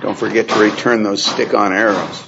Don't forget to return those stick-on arrows.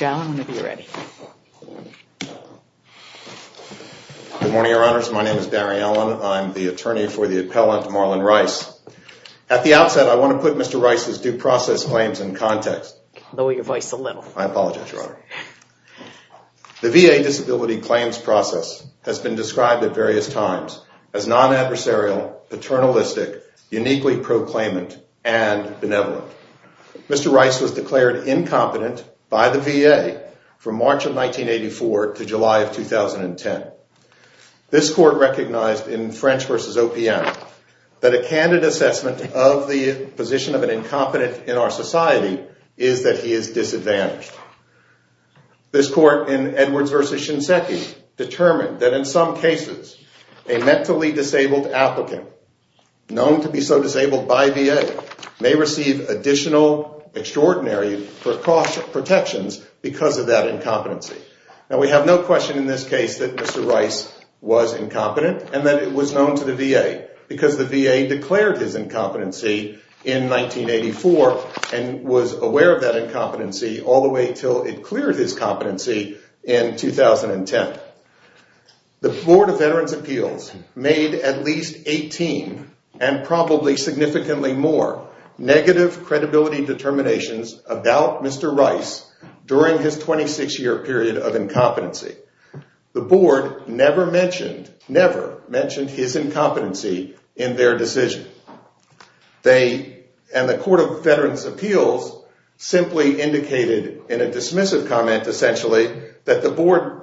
Good morning, Your Honors. My name is Barry Allen. I'm the attorney for the appellant, Marlon Rice. At the outset, I want to put Mr. Rice's due process claims in context. Lower your voice a little. I apologize, Your Honor. The VA disability claims process has been described at various times as non-adversarial, paternalistic, uniquely proclaimant, and benevolent. Mr. Rice was declared incompetent by the VA from March of 1984 to July of 2010. This court recognized in French v. OPM that a candid assessment of the position of an incompetent in our society is that he is disadvantaged. This court in Edwards v. Shinseki determined that in some cases, a mentally disabled applicant, known to be so disabled by VA, may receive additional extraordinary protections because of that incompetency. We have no question in this case that Mr. Rice was incompetent and that it was known to the VA because the VA declared his incompetency in 1984 and was aware of that incompetency all the way until it cleared his competency in 2010. The Board of Veterans' Appeals made at least 18, and probably significantly more, negative credibility determinations about Mr. Rice during his 26-year period of incompetency. The Board never mentioned his incompetency in their decision. And the Court of Veterans' Appeals simply indicated in a dismissive comment essentially that the Board,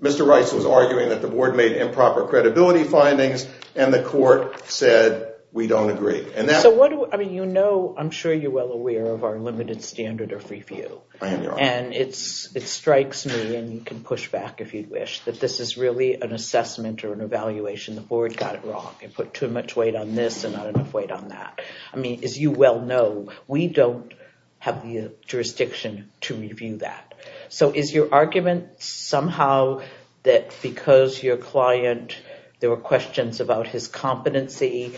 Mr. Rice was arguing that the Board made improper credibility findings and the Court said, we don't agree. So what do, I mean, you know, I'm sure you're well aware of our limited standard of review. And it strikes me, and you can push back if you wish, that this is really an assessment or an evaluation. The Board got it wrong. They put too much weight on this and not enough weight on that. I mean, as you well know, we don't have the jurisdiction to review that. So is your argument somehow that because your client, there were questions about his competency,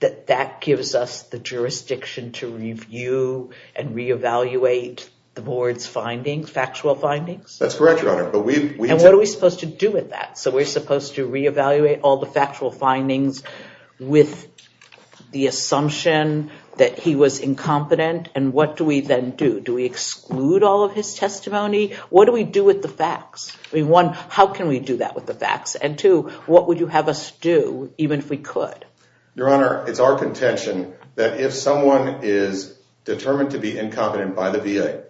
that that gives us the jurisdiction to review and re-evaluate the Board's findings, factual findings? That's correct, Your Honor. And what are we supposed to do with that? So we're supposed to re-evaluate all the factual findings with the assumption that he was incompetent, and what do we then do? Do we exclude all of his testimony? What do we do with the facts? I mean, one, how can we do that with the facts? And two, what would you have us do, even if we could? Your Honor, it's our contention that if someone is determined to be incompetent by the VA,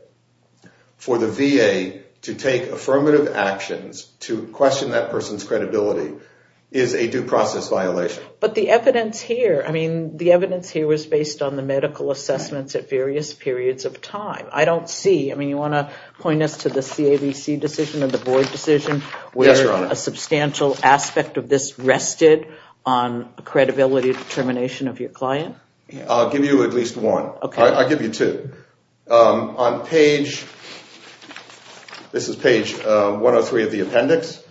for the VA to take affirmative actions to question that person's credibility is a due process violation. But the evidence here, I mean, the evidence here was based on the medical assessments at various periods of time. I don't see, I mean, you want to point us to the CAVC decision or the Board decision where a substantial aspect of this rested on credibility determination of your client? I'll give you at least one. I'll give you two. On page, this is page 103 of the appendix,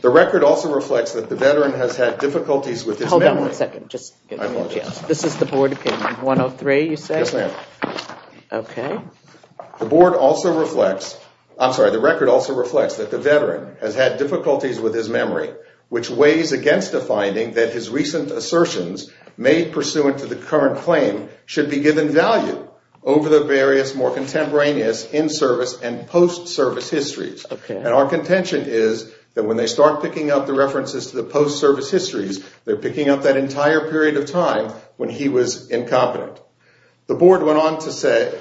the record also reflects that the veteran has had difficulties with his memory. Hold on one second. I apologize. This is the Board opinion, 103, you say? Yes, ma'am. Okay. The Board also reflects, I'm sorry, the record also reflects that the veteran has had difficulties with his memory, which weighs against the finding that his recent assertions made pursuant to the current claim should be given value over the various more contemporaneous in-service and post-service histories. Okay. And our contention is that when they start picking up the references to the post-service histories, they're picking up that entire period of time when he was incompetent. The Board went on to say,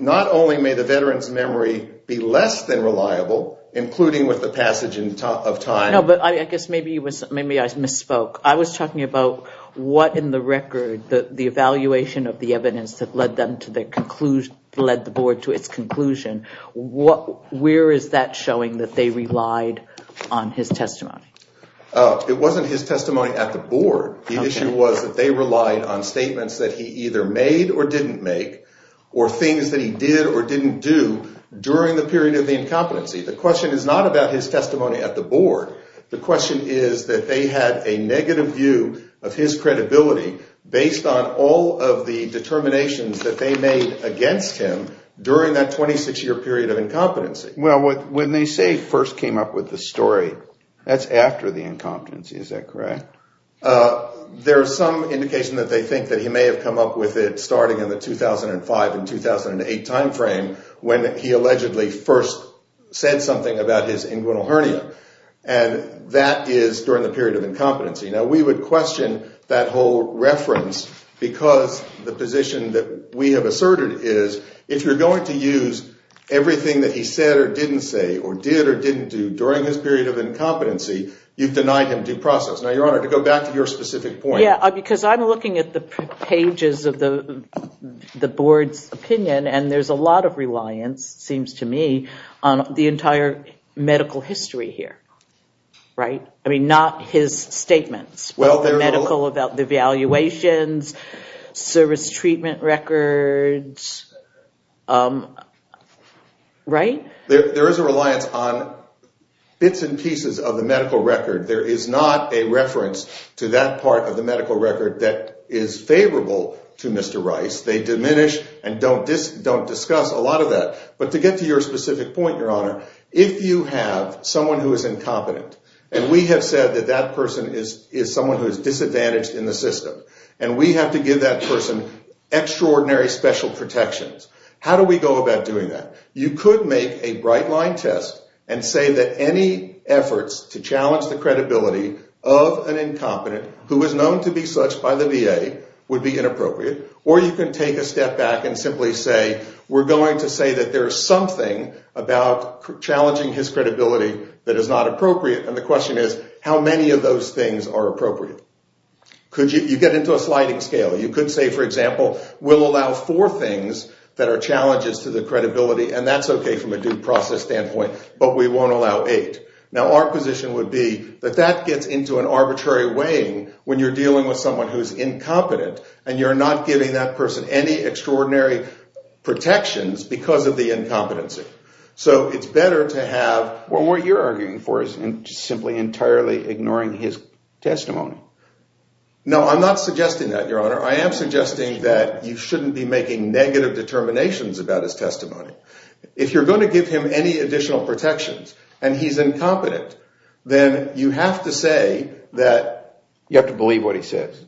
not only may the veteran's memory be less than reliable, including with the passage of time. No, but I guess maybe I misspoke. I was talking about what in the record, the evaluation of the evidence that led the Board to its conclusion, where is that showing that they relied on his testimony? It wasn't his testimony at the Board. The issue was that they relied on statements that he either made or didn't make, or things that he did or didn't do during the period of the incompetency. I'm talking about his testimony at the Board. The question is that they had a negative view of his credibility based on all of the determinations that they made against him during that 26-year period of incompetency. Well, when they say first came up with the story, that's after the incompetency. Is that correct? There's some indication that they think that he may have come up with it starting in the cinguinal hernia, and that is during the period of incompetency. We would question that whole reference because the position that we have asserted is if you're going to use everything that he said or didn't say or did or didn't do during his period of incompetency, you've denied him due process. Now, Your Honor, to go back to your specific point. Because I'm looking at the pages of the Board's opinion, and there's a lot of reliance, it has to do with medical history here, right? I mean, not his statements about the evaluations, service treatment records, right? There is a reliance on bits and pieces of the medical record. There is not a reference to that part of the medical record that is favorable to Mr. Rice. They diminish and don't discuss a lot of that. But to get to your specific point, Your Honor, if you have someone who is incompetent, and we have said that that person is someone who is disadvantaged in the system, and we have to give that person extraordinary special protections, how do we go about doing that? You could make a bright-line test and say that any efforts to challenge the credibility of an incompetent who is known to be such by the VA would be inappropriate, or you can take a step back and simply say, we're going to say that there's something about challenging his credibility that is not appropriate, and the question is, how many of those things are appropriate? You get into a sliding scale. You could say, for example, we'll allow four things that are challenges to the credibility, and that's okay from a due process standpoint, but we won't allow eight. Now, our position would be that that gets into an arbitrary weighing when you're dealing with someone who is incompetent, and you're not giving that person any extraordinary protections because of the incompetency. So it's better to have... Well, what you're arguing for is simply entirely ignoring his testimony. No, I'm not suggesting that, Your Honor. I am suggesting that you shouldn't be making negative determinations about his testimony. If you're going to give him any additional protections and he's incompetent, then you have to say that... You have to believe what he says.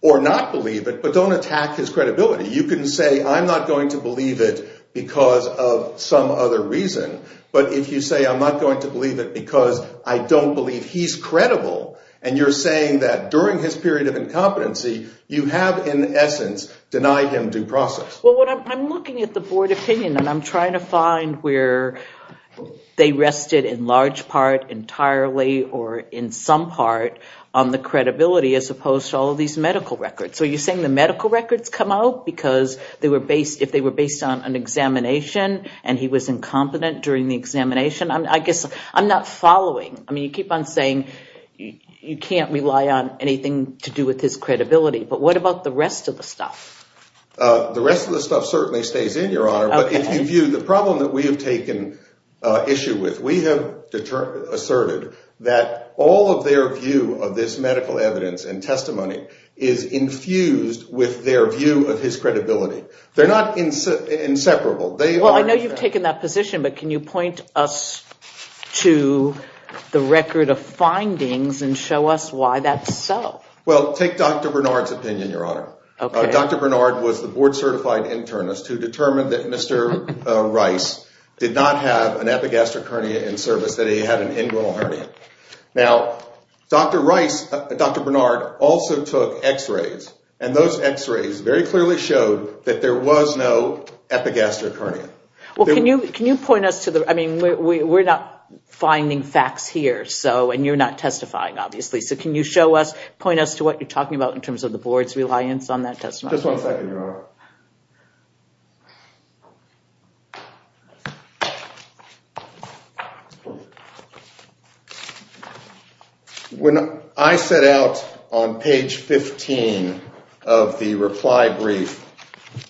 Or not believe it, but don't attack his credibility. You can say, I'm not going to believe it because of some other reason, but if you say, I'm not going to believe it because I don't believe he's credible, and you're saying that during his period of incompetency, you have in essence denied him due process. Well, I'm looking at the board opinion and I'm trying to find where they rested in large part entirely or in some part on the credibility as opposed to all of these medical records. So you're saying the medical records come out because if they were based on an examination and he was incompetent during the examination, I guess I'm not following. I mean, you keep on saying you can't rely on anything to do with his credibility, but what about the rest of the stuff? The rest of the stuff certainly stays in, Your Honor, but if you view the problem that we have taken issue with, we have asserted that all of their view of this medical evidence and testimony is infused with their view of his credibility. They're not inseparable. Well, I know you've taken that position, but can you point us to the record of findings and show us why that's so? Well, take Dr. Bernard's opinion, Your Honor. Dr. Bernard was the board certified internist who determined that Mr. Rice did not have an epigastric hernia in service, that he had an inguinal hernia. Now, Dr. Bernard also took x-rays and those x-rays very clearly showed that there was no epigastric hernia. Well, can you point us to the... I mean, we're not finding facts here and you're not testifying obviously, so can you point us to what you're talking about in terms of the board's reliance on that testimony? Just one second, Your Honor. When I set out on page 15 of the reply brief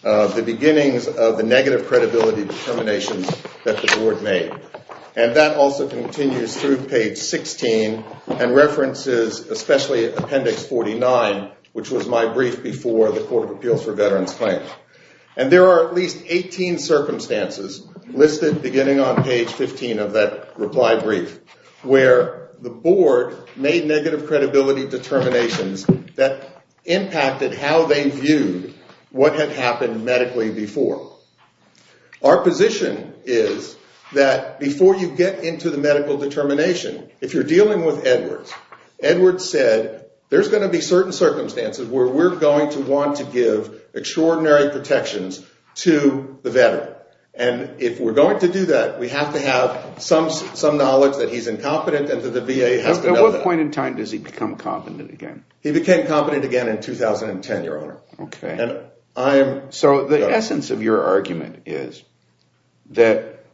of the beginnings of the negative credibility determinations that the board made, and that also continues through page 16 and references especially Appendix 49, which was my brief before the Court of Appeals for Veterans Claims. And there are at least 18 circumstances listed beginning on page 15 of that reply brief where the board made negative credibility determinations that impacted how they viewed what had happened medically before. So, our position is that before you get into the medical determination, if you're dealing with Edwards, Edwards said, there's going to be certain circumstances where we're going to want to give extraordinary protections to the veteran. And if we're going to do that, we have to have some knowledge that he's incompetent and that the VA has to know that. At what point in time does he become competent again? He became competent again in 2010, Your Honor. Okay. So, the essence of your argument is that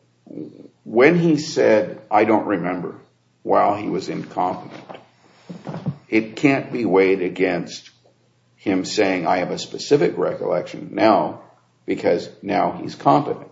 when he said, I don't remember while he was incompetent, it can't be weighed against him saying, I have a specific recollection now because now he's competent.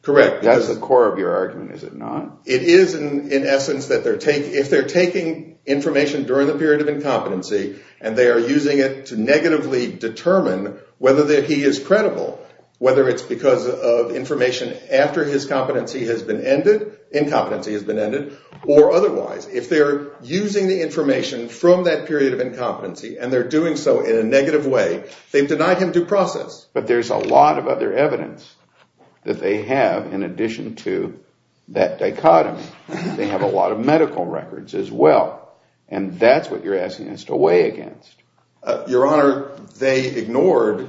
Correct. That's the core of your argument, is it not? It is in essence that if they're taking information during the period of incompetency and they are using it to negatively determine whether he is credible, whether it's because of information after his competency has been ended, incompetency has been ended, or otherwise, if they're using the information from that period of incompetency and they're doing so in a negative way, they've denied him due process. But there's a lot of other evidence that they have in addition to that dichotomy. They have a lot of medical records as well. And that's what you're asking us to weigh against. Your Honor, they ignored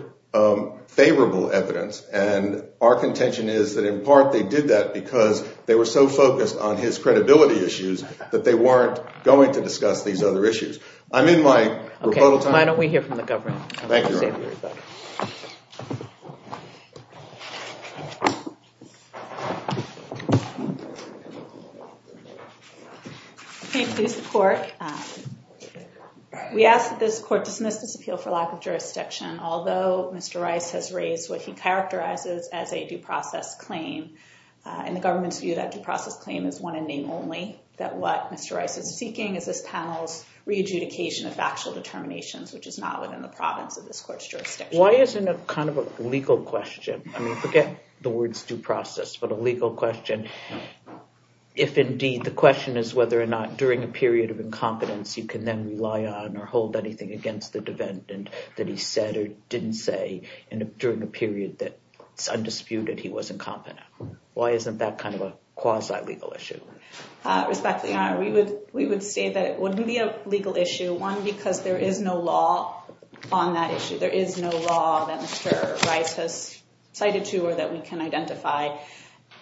favorable evidence and our contention is that in part they did that because they were so focused on his credibility issues that they weren't going to discuss these other issues. I'm in my rebuttal time. Why don't we hear from the government? Thank you, Your Honor. Please support. We ask that this court dismiss this appeal for lack of jurisdiction. Although Mr. Rice has raised what he characterizes as a due process claim and the government's view that due process claim is one in name only, that what Mr. Rice is seeking is this which is not within the province of this court's jurisdiction. Why isn't it kind of a legal question? I mean, forget the words due process, but a legal question, if indeed the question is whether or not during a period of incompetence you can then rely on or hold anything against the defendant that he said or didn't say during a period that it's undisputed he was incompetent. Why isn't that kind of a quasi-legal issue? Respectfully, Your Honor, we would say that it wouldn't be a legal issue. One, because there is no law on that issue. There is no law that Mr. Rice has cited to or that we can identify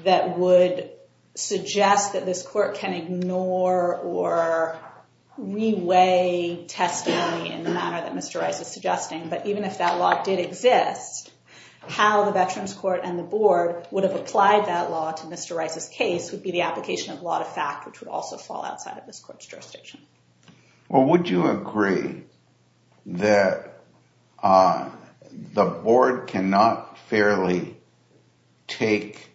that would suggest that this court can ignore or reweigh testimony in the manner that Mr. Rice is suggesting. But even if that law did exist, how the Veterans Court and the board would have applied that law to Mr. Rice's case would be the application of law to fact, which would also fall outside of this court's jurisdiction. Well, would you agree that the board cannot fairly take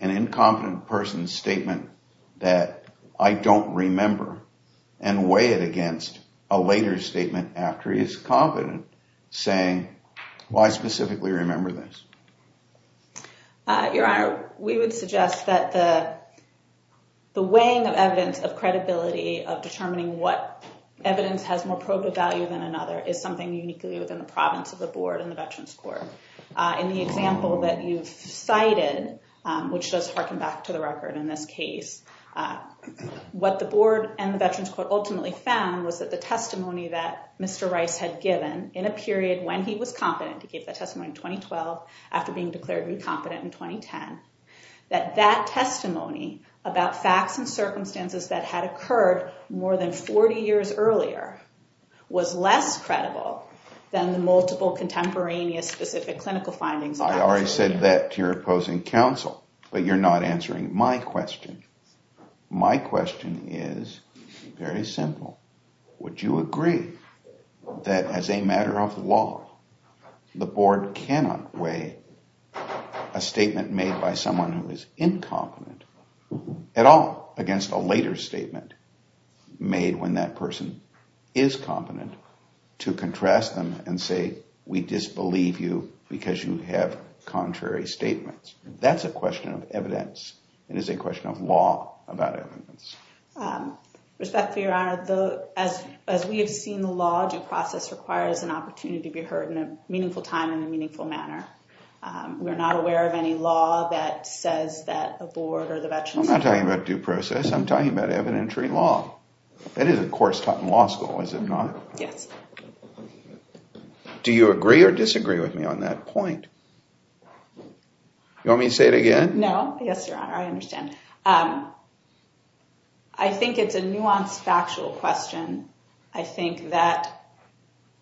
an incompetent person's statement that I don't remember and weigh it against a later statement after he is confident, saying, well, I specifically remember this? Your Honor, we would suggest that the weighing of evidence, of credibility, of determining what evidence has more probative value than another is something uniquely within the province of the board and the Veterans Court. In the example that you've cited, which does harken back to the record in this case, what the board and the Veterans Court ultimately found was that the testimony that Mr. Rice had given in a period when he was competent, he gave that testimony in 2012 after being declared incompetent in 2010, that that testimony about facts and circumstances that had occurred more than 40 years earlier was less credible than the multiple contemporaneous specific clinical findings. I already said that to your opposing counsel, but you're not answering my question. My question is very simple. Would you agree that as a matter of law, the board cannot weigh a statement made by someone who is incompetent at all against a later statement made when that person is competent to contrast them and say, we disbelieve you because you have contrary statements? That's a question of evidence. It is a question of law about evidence. Respectfully, Your Honor, as we have seen the law, due process requires an opportunity to be heard in a meaningful time in a meaningful manner. We're not aware of any law that says that a board or the Veterans Court- I'm not talking about due process. I'm talking about evidentiary law. That is a course taught in law school, is it not? Yes. Do you agree or disagree with me on that point? You want me to say it again? No. Yes, Your Honor. I understand. I think it's a nuanced, factual question. I think that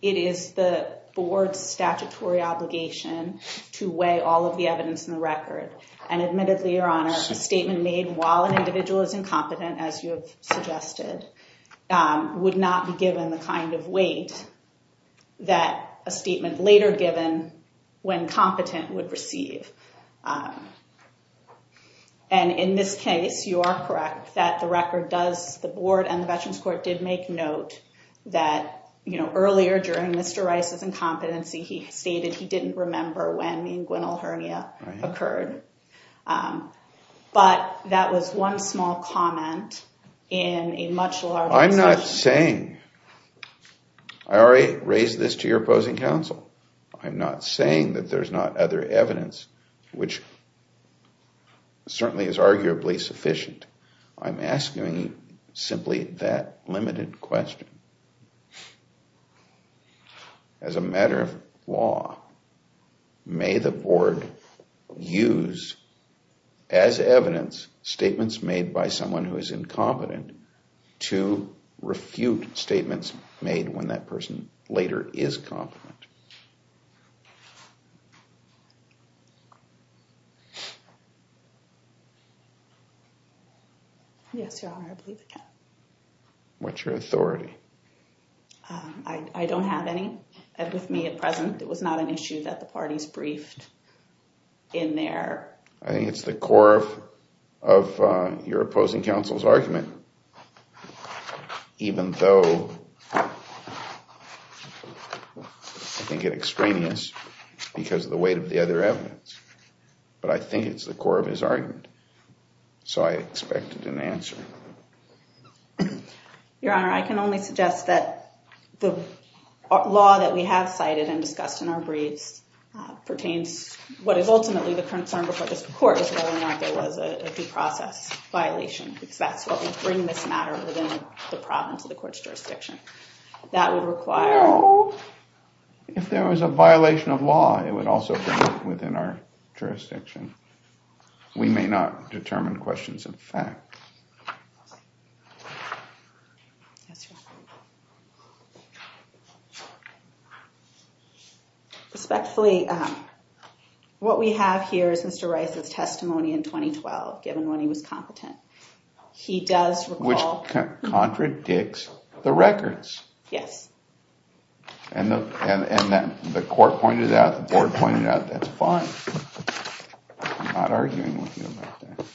it is the board's statutory obligation to weigh all of the evidence in the record. And admittedly, Your Honor, a statement made while an individual is incompetent, as you have suggested, would not be given the kind of weight that a statement later given when competent would receive. And in this case, you are correct that the record does- the board and the Veterans Court did make note that earlier during Mr. Rice's incompetency, he stated he didn't remember when the inguinal hernia occurred. But that was one small comment in a much larger- I'm not saying- I already raised this to your opposing counsel. I'm not saying that there's not other evidence, which certainly is arguably sufficient. I'm asking simply that limited question. As a matter of law, may the board use as evidence statements made by someone who is incompetent to refute statements made when that person later is competent? Yes, Your Honor, I believe I can. What's your authority? I don't have any with me at present. It was not an issue that the parties briefed in there. I think it's the core of your opposing counsel's argument, even though I think it extraneous because of the weight of the other evidence. But I think it's the core of his argument. So I expect an answer. Your Honor, I can only suggest that the law that we have cited and discussed in our briefs pertains to what is ultimately the concern before just the court, is whether or not there was a due process violation, because that's what would bring this matter within the province of the court's jurisdiction. That would require... No, if there was a violation of law, it would also bring it within our jurisdiction. We may not determine questions of fact. Respectfully, what we have here is Mr. Rice's testimony in 2012, given when he was competent. He does recall... Which contradicts the records. Yes. And the court pointed out, the board pointed out, that's fine. I'm not arguing with you about that.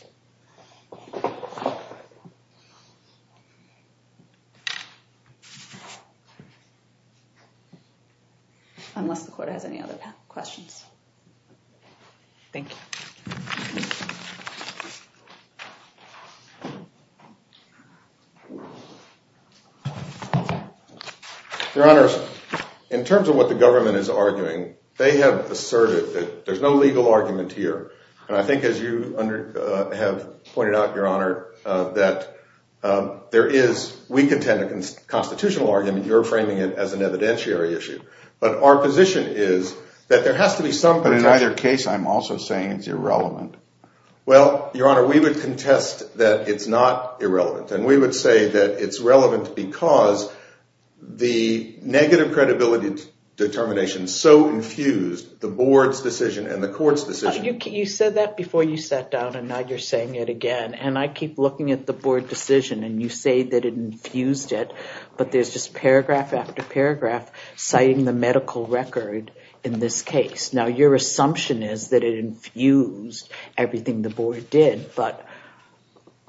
Unless the court has any other questions. Thank you. Your Honor, in terms of what the government is arguing, they have asserted that there's no legal argument here. And I think as you have pointed out, Your Honor, that there is... We contend a constitutional argument. You're framing it as an evidentiary issue. But our position is that there has to be some... But in either case, I'm also saying it's irrelevant. Well, Your Honor, we would contest that it's not irrelevant. And we would say that it's relevant because the negative credibility determination so infused the board's decision and the court's decision... You said that before you sat down and now you're saying it again. And I keep looking at the board decision and you say that it infused it. But there's just paragraph after paragraph citing the medical record in this case. Now, your assumption is that it infused everything the board did, but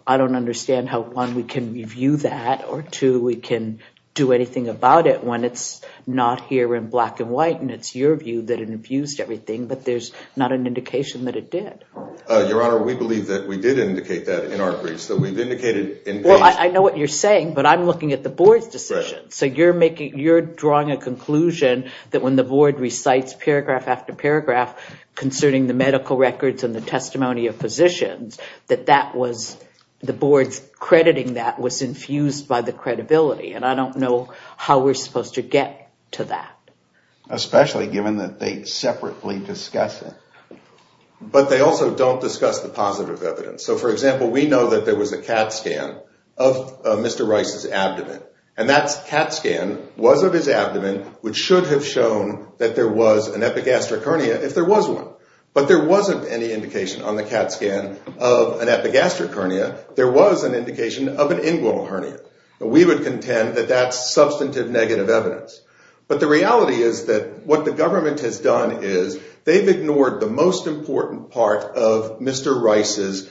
I don't understand how, one, we can review that, or two, we can do anything about it when it's not here in black and white. And it's your view that it infused everything, but there's not an indication that it did. Your Honor, we believe that we did indicate that in our briefs. That we've indicated in case... Well, I know what you're saying, but I'm looking at the board's decision. So you're drawing a conclusion that when the board recites paragraph after paragraph concerning the medical records and the testimony of physicians, that the board's crediting that was infused by the credibility. And I don't know how we're supposed to get to that. Especially given that they separately discuss it. But they also don't discuss the positive evidence. So, for example, we know that there was a CAT scan of Mr. Rice's abdomen. And that CAT scan was of his abdomen, which should have shown that there was an epigastric hernia if there was one. But there wasn't any indication on the CAT scan of an epigastric hernia. There was an indication of an inguinal hernia. We would contend that that's substantive negative evidence. But the reality is that what the government has done is they've ignored the most important part of Mr. Rice's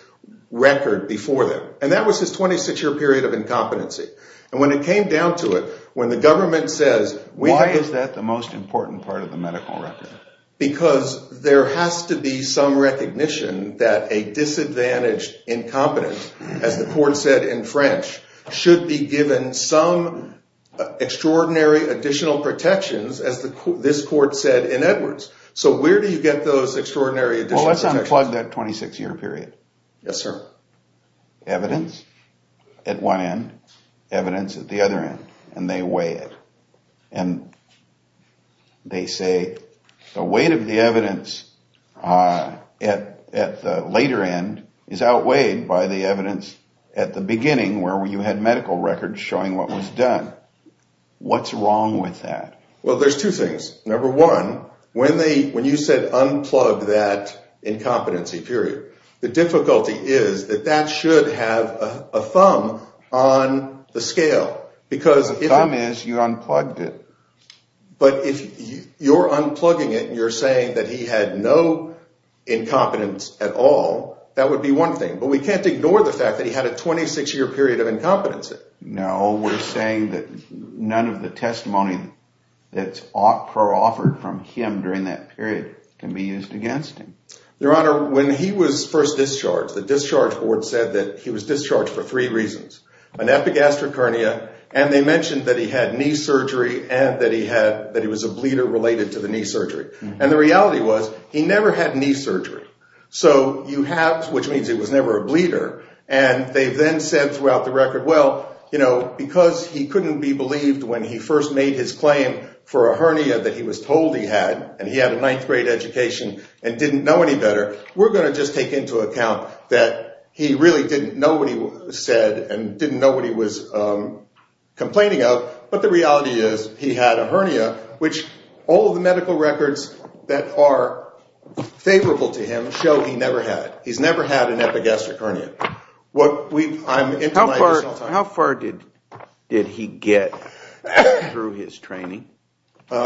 record before them. And that was his 26-year period of incompetency. And when it came down to it, when the government says... Why is that the most important part of the medical record? Because there has to be some recognition that a disadvantaged incompetent, as the court said in French, should be given some extraordinary additional protections, as this court said in Edwards. So where do you get those extraordinary additional protections? Well, let's unplug that 26-year period. Yes, sir. Evidence at one end, evidence at the other end. And they weigh it. And they say the weight of the evidence at the later end is outweighed by the evidence at the beginning, where you had medical records showing what was done. What's wrong with that? Well, there's two things. Number one, when you said unplug that incompetency period, the difficulty is that that should have a thumb on the scale, because... The thumb is you unplugged it. But if you're unplugging it, and you're saying that he had no incompetence at all, that would be one thing. But we can't ignore the fact that he had a 26-year period of incompetency. No, we're saying that none of the testimony that's offered from him during that period can be used against him. Your Honor, when he was first discharged, the discharge board said that he was discharged for three reasons. An epigastric hernia. And they mentioned that he had knee surgery, and that he was a bleeder related to the knee surgery. And the reality was, he never had knee surgery. So you have... Which means he was never a bleeder. And they then said throughout the record, well, because he couldn't be believed when he first made his claim for a hernia that he was told he had, and he had a ninth grade education, and didn't know any better. We're going to just take into account that he really didn't know what he said, and didn't know what he was complaining of. But the reality is, he had a hernia, which all of the medical records that are favorable to him show he never had it. He's never had an epigastric hernia. How far did he get through his training?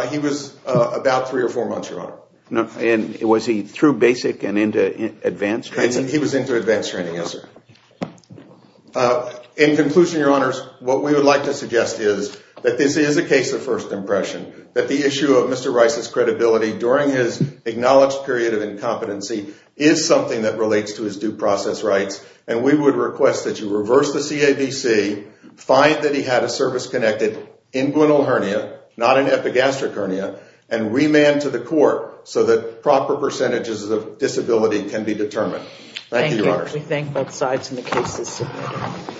He was about three or four months, Your Honor. And was he through basic and into advanced training? He was into advanced training, yes, sir. In conclusion, Your Honors, what we would like to suggest is that this is a case of first impression. That the issue of Mr. Rice's credibility during his acknowledged period of incompetency is something that relates to his due process rights. And we would request that you reverse the CABC, find that he had a service-connected inguinal hernia, not an epigastric hernia, and remand to the court so that proper percentages of disability can be determined. Thank you, Your Honors. We thank both sides in the case this evening.